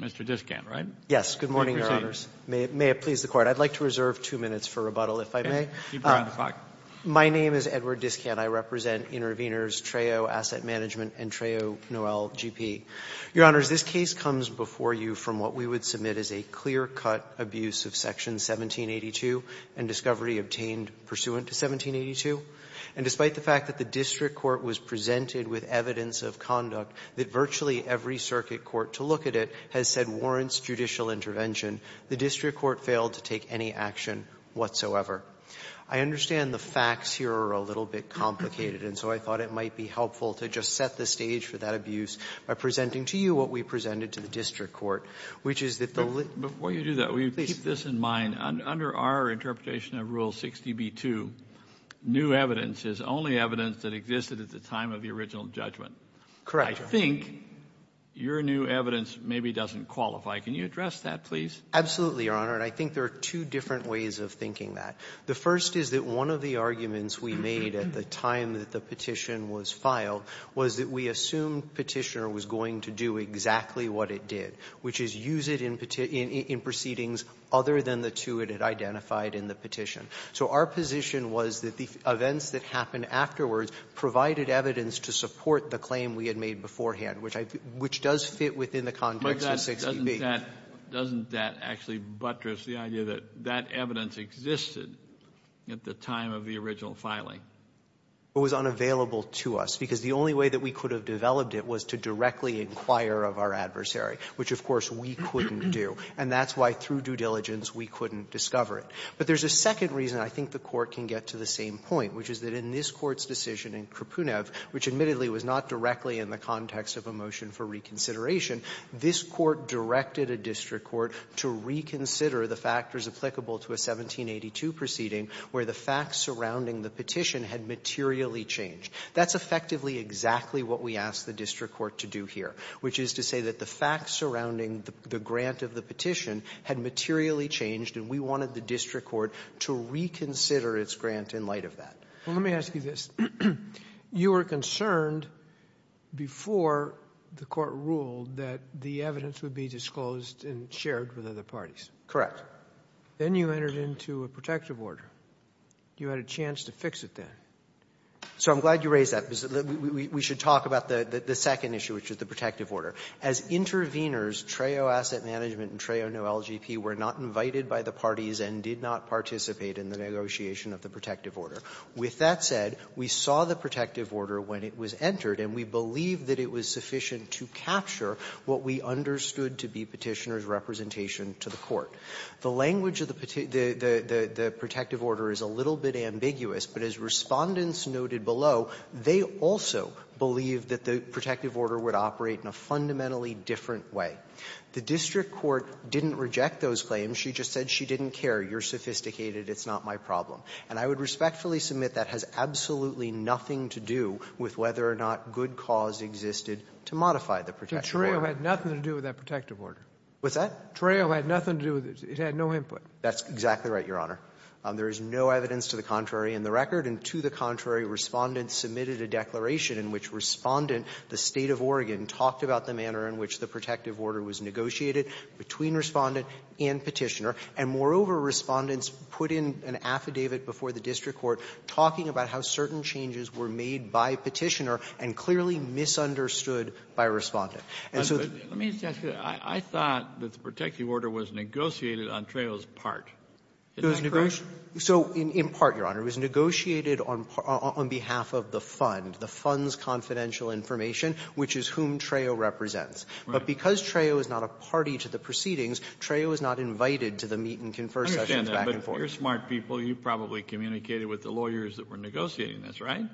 Mr. Discant, right? Yes. Good morning, Your Honors. May it please the Court. I'd like to reserve two minutes for rebuttal, if I may. Keep around the clock. My name is Edward Discant. I represent Intervenors Treo Asset Management and Treo Noel Gp. Your Honors, this case comes before you from what we would submit as a clear-cut abuse of Section 1782 and discovery obtained pursuant to 1782. And despite the fact that the district court was presented with evidence of conduct that virtually every circuit court to look at it has said warrants judicial intervention, the district court failed to take any action whatsoever. I understand the facts here are a little bit complicated, and so I thought it might be helpful to just set the stage for that abuse by presenting to you what we presented to the district court, which is that the lit — Your Honor, in our interpretation of Rule 60b-2, new evidence is only evidence that existed at the time of the original judgment. Correct, Your Honor. I think your new evidence maybe doesn't qualify. Can you address that, please? Absolutely, Your Honor. And I think there are two different ways of thinking that. The first is that one of the arguments we made at the time that the petition was filed was that we assumed Petitioner was going to do exactly what it did, which is use it in — in proceedings other than the two it had identified in the case. So our position was that the events that happened afterwards provided evidence to support the claim we had made beforehand, which I — which does fit within the context of 60b. But doesn't that — doesn't that actually buttress the idea that that evidence existed at the time of the original filing? It was unavailable to us because the only way that we could have developed it was to directly inquire of our adversary, which, of course, we couldn't do. And that's why, through due diligence, we couldn't discover it. But there's a second reason I think the Court can get to the same point, which is that in this Court's decision in Krapunev, which admittedly was not directly in the context of a motion for reconsideration, this Court directed a district court to reconsider the factors applicable to a 1782 proceeding where the facts surrounding the petition had materially changed. That's effectively exactly what we asked the district court to do here, which is to that the facts surrounding the grant of the petition had materially changed, and we wanted the district court to reconsider its grant in light of that. Well, let me ask you this. You were concerned before the Court ruled that the evidence would be disclosed and shared with other parties. Correct. Then you entered into a protective order. You had a chance to fix it then. So I'm glad you raised that. We should talk about the second issue, which is the protective order. As interveners, TRAO Asset Management and TRAO No-LGP were not invited by the parties and did not participate in the negotiation of the protective order. With that said, we saw the protective order when it was entered, and we believe that it was sufficient to capture what we understood to be Petitioner's representation to the Court. The language of the protective order is a little bit ambiguous, but as Respondents noted below, they also believed that the protective order would operate in a fundamental different way. The district court didn't reject those claims. She just said she didn't care. You're sophisticated. It's not my problem. And I would respectfully submit that has absolutely nothing to do with whether or not good cause existed to modify the protective order. But TRAO had nothing to do with that protective order. What's that? TRAO had nothing to do with it. It had no input. That's exactly right, Your Honor. There is no evidence to the contrary in the record. And to the contrary, Respondents submitted a declaration in which Respondent, the State of Oregon, talked about the manner in which the protective order was negotiated between Respondent and Petitioner. And moreover, Respondents put in an affidavit before the district court talking about how certain changes were made by Petitioner and clearly misunderstood by Respondent. And so the ---- Kennedy, I thought that the protective order was negotiated on TRAO's part. Isn't that correct? So in part, Your Honor, it was negotiated on behalf of the fund. The fund's confidential information, which is whom TRAO represents. But because TRAO is not a party to the proceedings, TRAO is not invited to the meet and confer sessions back and forth. Kennedy, I understand that, but you're smart people. You probably communicated with the lawyers that were negotiating this, right?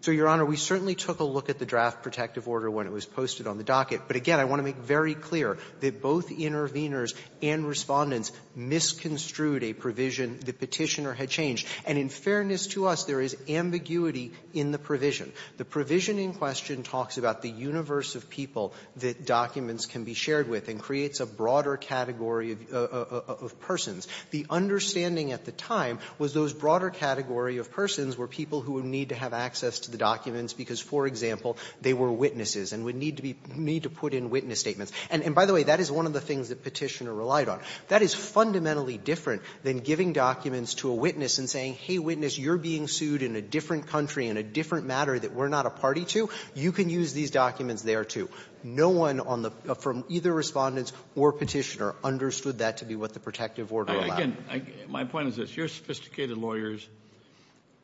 So, Your Honor, we certainly took a look at the draft protective order when it was posted on the docket. But again, I want to make very clear that both interveners and Respondents misconstrued a provision that Petitioner had changed. And in fairness to us, there is ambiguity in the provision. The provision in question talks about the universe of people that documents can be shared with and creates a broader category of persons. The understanding at the time was those broader category of persons were people who would need to have access to the documents because, for example, they were witnesses and would need to be ---- need to put in witness statements. And by the way, that is one of the things that Petitioner relied on. That is fundamentally different than giving documents to a witness and saying, hey, witness, you're being sued in a different country in a different matter that we're not a party to, you can use these documents there, too. No one on the ---- from either Respondents or Petitioner understood that to be what the protective order allowed. Again, I ---- my point is this. Your sophisticated lawyers,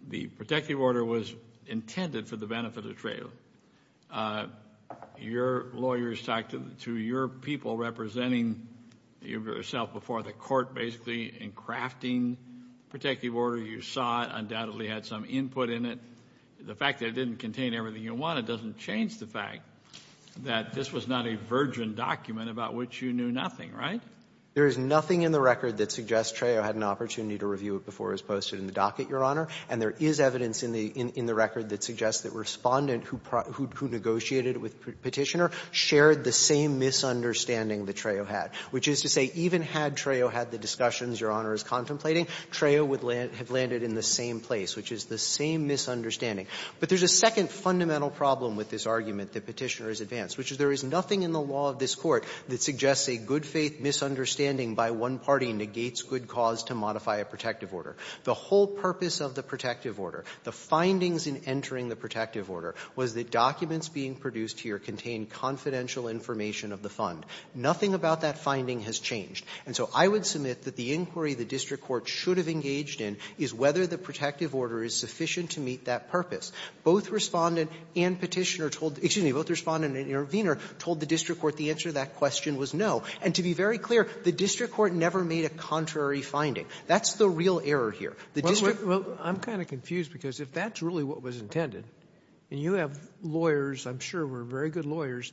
the protective order was intended for the benefit of trade. Your lawyers talked to your people representing yourself before the court basically in crafting protective order. You saw it undoubtedly had some input in it. The fact that it didn't contain everything you wanted doesn't change the fact that this was not a virgin document about which you knew nothing, right? There is nothing in the record that suggests Trejo had an opportunity to review it before it was posted in the docket, Your Honor. And there is evidence in the record that suggests that Respondent, who negotiated with Petitioner, shared the same misunderstanding that Trejo had, which is to say even had Trejo had the discussions Your Honor is contemplating, Trejo would have landed in the same place, which is the same misunderstanding. But there's a second fundamental problem with this argument that Petitioner has advanced, which is there is nothing in the law of this Court that suggests a good-faith misunderstanding by one party negates good cause to modify a protective order. The whole purpose of the protective order, the findings in entering the protective order, was that documents being produced here contain confidential information of the fund. Nothing about that finding has changed. And so I would submit that the inquiry the district court should have engaged in is whether the protective order is sufficient to meet that purpose. Both Respondent and Petitioner told the --- excuse me, both Respondent and Intervenor told the district court the answer to that question was no. And to be very clear, the district court never made a contrary finding. That's the real error here. The district --- Robertson, I'm kind of confused because if that's really what was intended, and you have lawyers, I'm sure were very good lawyers,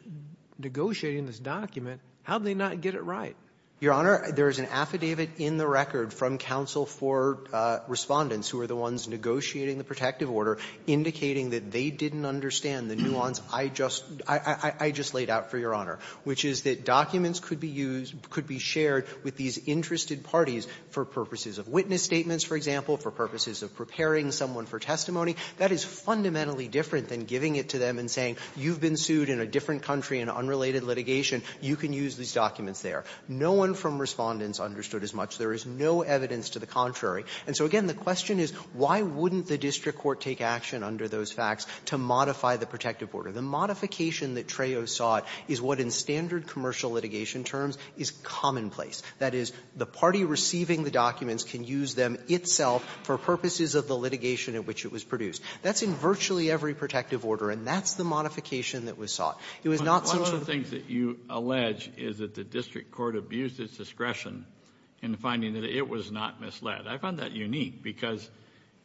negotiating this document, how do they not get it right? Your Honor, there is an affidavit in the record from counsel for Respondents who are the ones negotiating the protective order indicating that they didn't understand the nuance I just laid out for Your Honor, which is that documents could be used, could be shared with these interested parties for purposes of witness statements, for example, for purposes of preparing someone for testimony. That is fundamentally different than giving it to them and saying, you've been sued in a different country in unrelated litigation. You can use these documents there. No one from Respondents understood as much. There is no evidence to the contrary. And so, again, the question is, why wouldn't the district court take action under those facts to modify the protective order? The modification that Trejo sought is what in standard commercial litigation terms is commonplace. That is, the party receiving the documents can use them itself for purposes of the That's in virtually every protective order, and that's the modification that was sought. It was not sort of the things that you allege is that the district court abused its discretion in finding that it was not misled. I find that unique because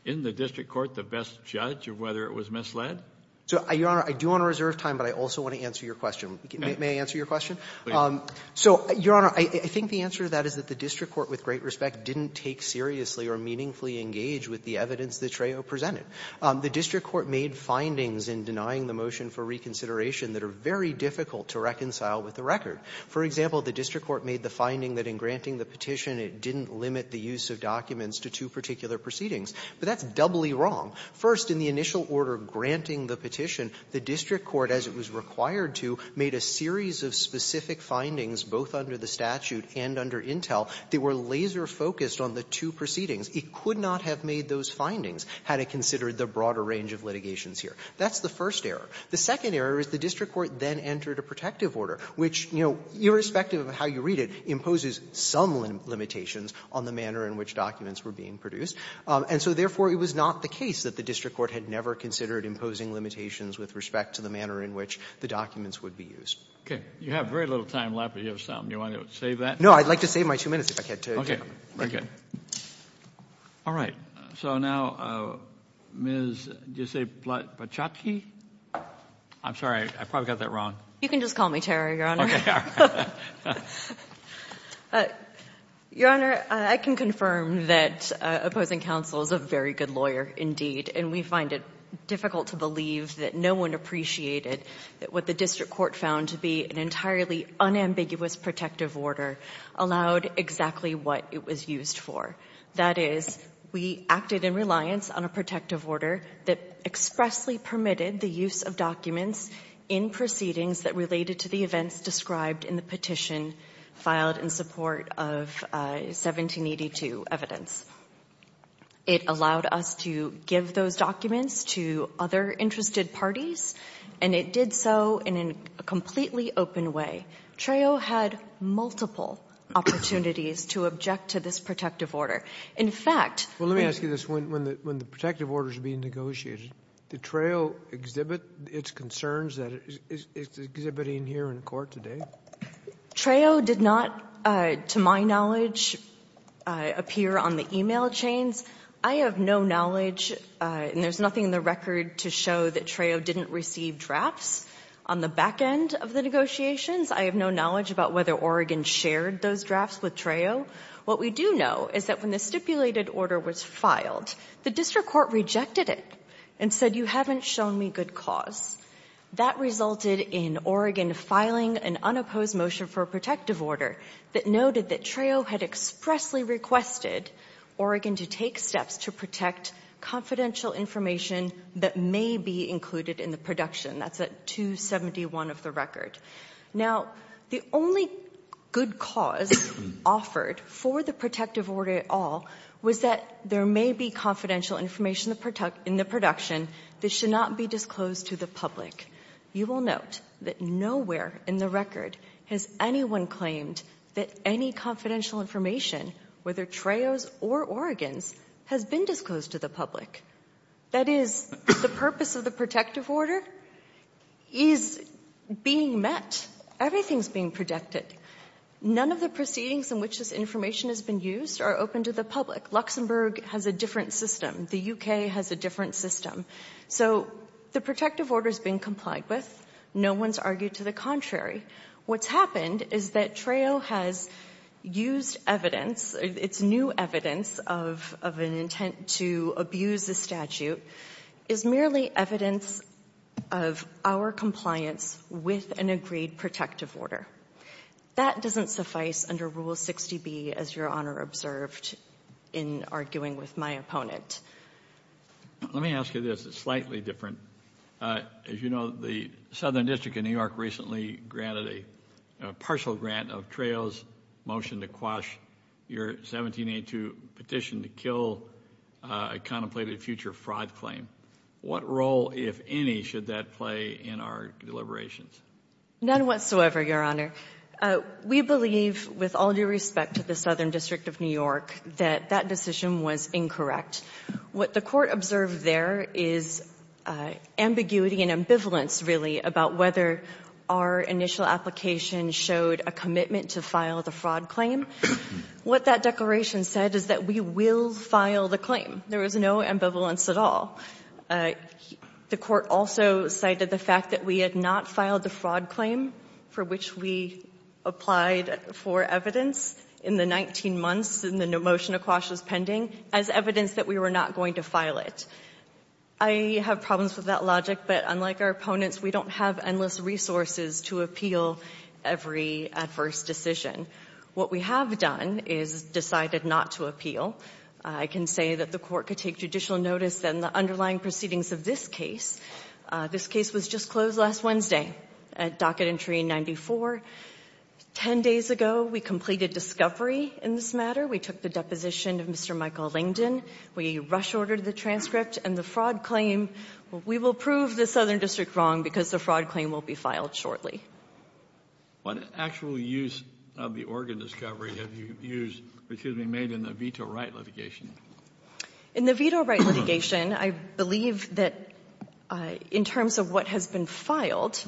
in the district court, the best judge of whether it was misled. So, Your Honor, I do want to reserve time, but I also want to answer your question. May I answer your question? Please. So, Your Honor, I think the answer to that is that the district court, with great respect, didn't take seriously or meaningfully engaged with the evidence that Trejo presented. The district court made findings in denying the motion for reconsideration that are very difficult to reconcile with the record. For example, the district court made the finding that in granting the petition, it didn't limit the use of documents to two particular proceedings. But that's doubly wrong. First, in the initial order granting the petition, the district court, as it was required to, made a series of specific findings, both under the statute and under Intel, that were laser-focused on the two proceedings. It could not have made those findings had it considered the broader range of litigations here. That's the first error. The second error is the district court then entered a protective order, which, you know, irrespective of how you read it, imposes some limitations on the manner in which documents were being produced. And so, therefore, it was not the case that the district court had never considered imposing limitations with respect to the manner in which the documents would be used. You have very little time left, but you have some. Do you want to save that? No. I'd like to save my two minutes if I had to. Okay. Very good. All right. So now, Ms. Do you say Blatchatsky? I'm sorry. I probably got that wrong. You can just call me Tara, Your Honor. Your Honor, I can confirm that opposing counsel is a very good lawyer, indeed. And we find it difficult to believe that no one appreciated that what the district court found to be an entirely unambiguous protective order allowed exactly what it was used for. That is, we acted in reliance on a protective order that expressly permitted the use of documents in proceedings that related to the events described in the petition filed in support of 1782 evidence. It allowed us to give those documents to other interested parties, and it did so in a completely open way. Trao had multiple opportunities to object to this protective order. In fact — Well, let me ask you this. When the protective order is being negotiated, did Trao exhibit its concerns that it's exhibiting here in court today? Trao did not, to my knowledge, appear on the e-mail chains. I have no knowledge, and there's nothing in the record to show that Trao didn't receive drafts on the back end of the negotiations. I have no knowledge about whether Oregon shared those drafts with Trao. What we do know is that when the stipulated order was filed, the district court rejected it and said, you haven't shown me good cause. That resulted in Oregon filing an unopposed motion for a protective order that noted that Trao had expressly requested Oregon to take steps to protect confidential information that may be included in the production. That's at 271 of the record. Now, the only good cause offered for the protective order at all was that there may be confidential information in the production that should not be disclosed to the public. You will note that nowhere in the record has anyone claimed that any confidential information, whether Trao's or Oregon's, has been disclosed to the public. That is, the purpose of the protective order is being met. Everything's being protected. None of the proceedings in which this information has been used are open to the public. Luxembourg has a different system. The U.K. has a different system. So the protective order's being complied with. No one's argued to the contrary. What's happened is that Trao has used evidence, its new evidence, of an intent to abuse the statute is merely evidence of our compliance with an agreed protective order. That doesn't suffice under Rule 60B, as Your Honor observed in arguing with my opponent. Let me ask you this. It's slightly different. As you know, the Southern District of New York recently granted a partial grant of Trao's motion to quash your 1782 petition to kill a contemplated future fraud claim. What role, if any, should that play in our deliberations? None whatsoever, Your Honor. We believe, with all due respect to the Southern District of New York, that that decision was incorrect. What the Court observed there is ambiguity and ambivalence, really, about whether our initial application showed a commitment to file the fraud claim. What that declaration said is that we will file the claim. There was no ambivalence at all. The Court also cited the fact that we had not filed the fraud claim for which we applied for evidence in the 19 months, and the motion to quash was pending, as evidence that we were not going to file it. I have problems with that logic, but unlike our opponents, we don't have endless resources to appeal every adverse decision. What we have done is decided not to appeal. I can say that the Court could take judicial notice that in the underlying proceedings of this case, this case was just closed last Wednesday at docket entry 94. Ten days ago, we completed discovery in this matter. We took the deposition of Mr. Michael Lingdon. We rush-ordered the transcript, and the fraud claim, we will prove the Southern District wrong because the fraud claim will be filed shortly. Kennedy. What actual use of the Oregon discovery have you used, excuse me, made in the veto right litigation? In the veto right litigation, I believe that in terms of what has been filed,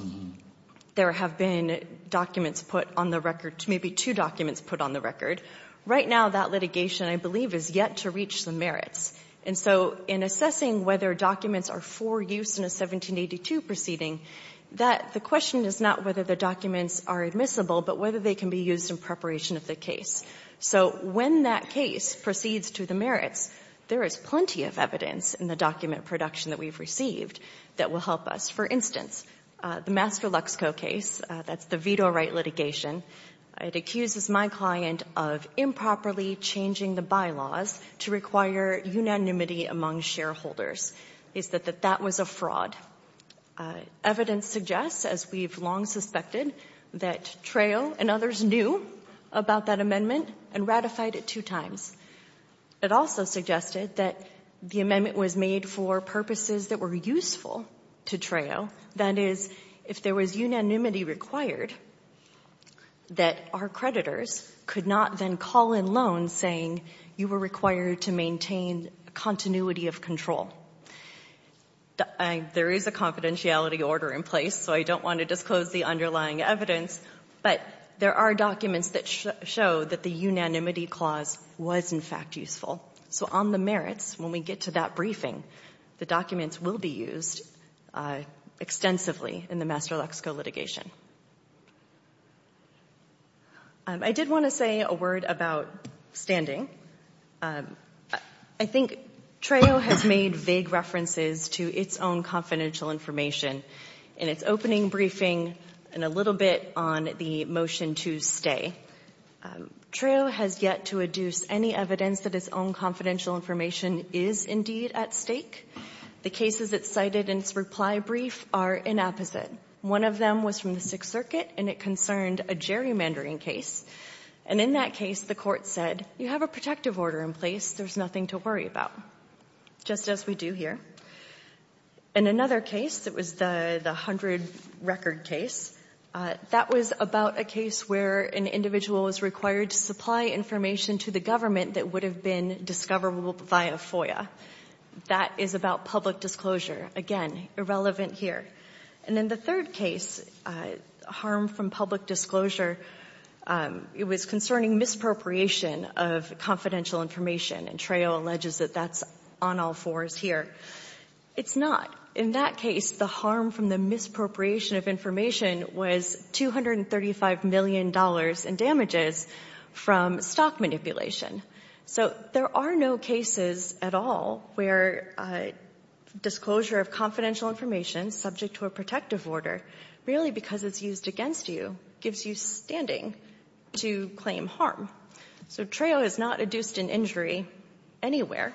there have been documents put on the record, maybe two documents put on the record. Right now, that litigation, I believe, is yet to reach the merits. And so in assessing whether documents are for use in a 1782 proceeding, the question is not whether the documents are admissible, but whether they can be used in preparation of the case. So when that case proceeds to the merits, there is plenty of evidence in the document production that we have received that will help us. For instance, the Master Luxco case, that's the veto right litigation, it accuses my client of improperly changing the bylaws to require unanimity among shareholders. It's that that was a fraud. Evidence suggests, as we've long suspected, that Trao and others knew about that amendment and ratified it two times. It also suggested that the amendment was made for purposes that were useful to Trao. That is, if there was unanimity required, that our creditors could not then call in loans saying you were required to maintain a continuity of control. There is a confidentiality order in place, so I don't want to disclose the underlying evidence, but there are documents that show that the unanimity clause was, in fact, useful. So on the merits, when we get to that briefing, the documents will be used extensively in the Master Luxco litigation. I did want to say a word about standing. I think Trao has made vague references to its own confidential information in its opening briefing and a little bit on the motion to stay. Trao has yet to adduce any evidence that its own confidential information is indeed at stake. The cases it cited in its reply brief are inapposite. One of them was from the Sixth Circuit, and it concerned a gerrymandering case. And in that case, the Court said, you have a protective order in place. There's nothing to worry about, just as we do here. In another case, it was the 100 record case. That was about a case where an individual was required to supply information to the government that would have been discoverable via FOIA. That is about public disclosure. Again, irrelevant here. And in the third case, harm from public disclosure, it was concerning misappropriation of confidential information, and Trao alleges that that's on all fours here. It's not. In that case, the harm from the misappropriation of information was $235 million in damages from stock manipulation. So there are no cases at all where disclosure of confidential information, subject to a protective order, really because it's used against you, gives you standing to claim harm. So Trao has not adduced an injury anywhere.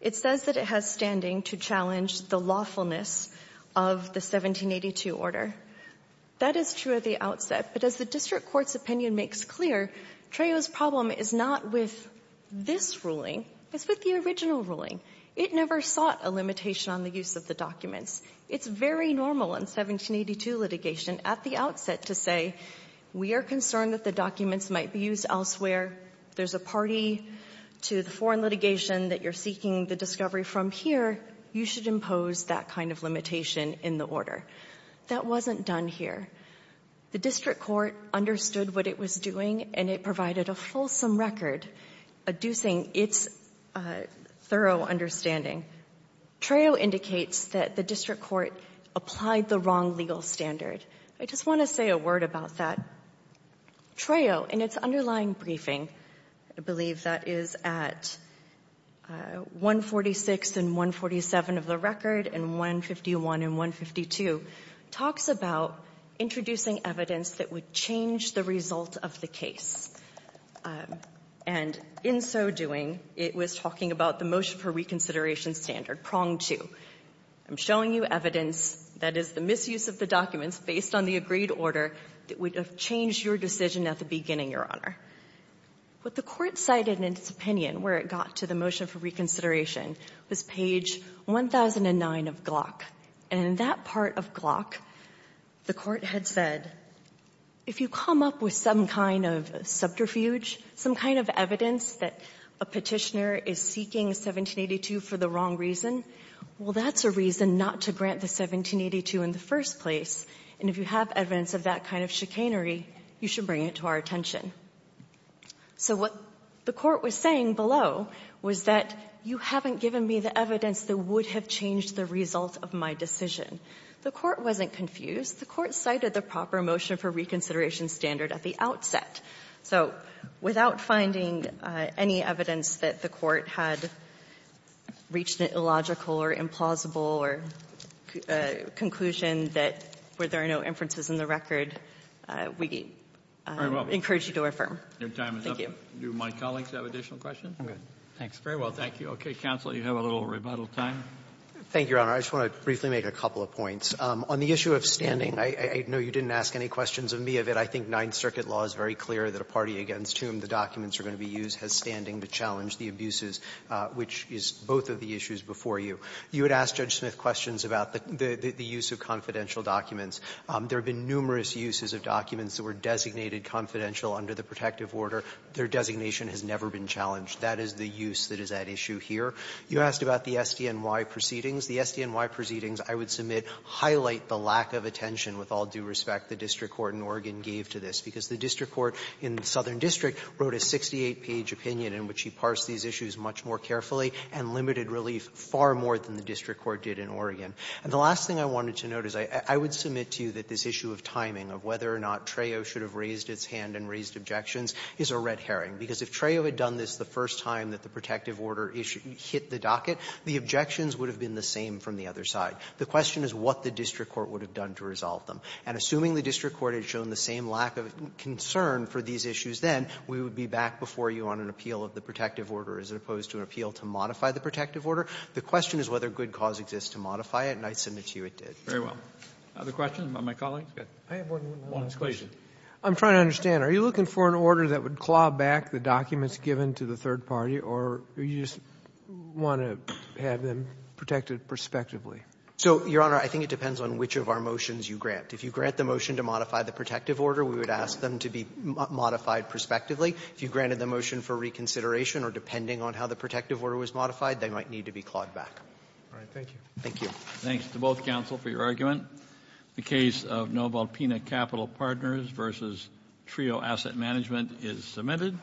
It says that it has standing to challenge the lawfulness of the 1782 order. That is true at the outset. But as the district court's opinion makes clear, Trao's problem is not with this ruling. It's with the original ruling. It never sought a limitation on the use of the documents. It's very normal in 1782 litigation at the outset to say, we are concerned that the documents might be used elsewhere. If there's a party to the foreign litigation that you're seeking the discovery from here, you should impose that kind of limitation in the order. That wasn't done here. The district court understood what it was doing, and it provided a fulsome record, adducing its thorough understanding. Trao indicates that the district court applied the wrong legal standard. I just want to say a word about that. Trao, in its underlying briefing, I believe that is at 146 and 147 of the record, and 151 and 152, talks about introducing evidence that would change the result of the case. And in so doing, it was talking about the motion for reconsideration standard, prong two. I'm showing you evidence that is the misuse of the documents based on the agreed order that would have changed your decision at the beginning, Your Honor. What the Court cited in its opinion, where it got to the motion for reconsideration, was page 1009 of Glock. And in that part of Glock, the Court had said, if you come up with some kind of subterfuge, some kind of evidence that a Petitioner is seeking 1782 for the wrong reason, well, that's a reason not to grant the 1782 in the first place. And if you have evidence of that kind of chicanery, you should bring it to our attention. So what the Court was saying below was that you haven't given me the evidence that would have changed the result of my decision. The Court wasn't confused. The Court cited the proper motion for reconsideration standard at the outset. So without finding any evidence that the Court had reached an illogical or implausible conclusion that there are no inferences in the record, we encourage you to affirm. Thank you. Do my colleagues have additional questions? Thanks. Very well. Thank you. Okay. Counsel, you have a little rebuttal time. Thank you, Your Honor. I just want to briefly make a couple of points. On the issue of standing, I know you didn't ask any questions of me of it. I think Ninth Circuit law is very clear that a party against whom the documents are going to be used has standing to challenge the abuses, which is both of the issues before you. You had asked Judge Smith questions about the use of confidential documents. There have been numerous uses of documents that were designated confidential under the protective order. Their designation has never been challenged. That is the use that is at issue here. You asked about the SDNY proceedings. The SDNY proceedings, I would submit, highlight the lack of attention, with all due respect, the district court in Oregon gave to this, because the district court in the Southern District wrote a 68-page opinion in which he parsed these issues much more and limited relief far more than the district court did in Oregon. And the last thing I wanted to note is I would submit to you that this issue of timing of whether or not Trejo should have raised its hand and raised objections is a red herring, because if Trejo had done this the first time that the protective order hit the docket, the objections would have been the same from the other side. The question is what the district court would have done to resolve them. And assuming the district court had shown the same lack of concern for these issues then, we would be back before you on an appeal of the protective order as opposed to an appeal to modify the protective order. The question is whether good cause exists to modify it, and I submit to you it did. Very well. Other questions by my colleagues? Go ahead. I have one more question. One exclusion. I'm trying to understand. Are you looking for an order that would claw back the documents given to the third party, or do you just want to have them protected prospectively? So, Your Honor, I think it depends on which of our motions you grant. If you grant the motion to modify the protective order, we would ask them to be modified prospectively. If you granted the motion for reconsideration or depending on how the protective order was modified, they might need to be clawed back. All right. Thank you. Thank you. Thanks to both counsel for your argument. The case of Nobel Pena Capital Partners versus Trio Asset Management is submitted.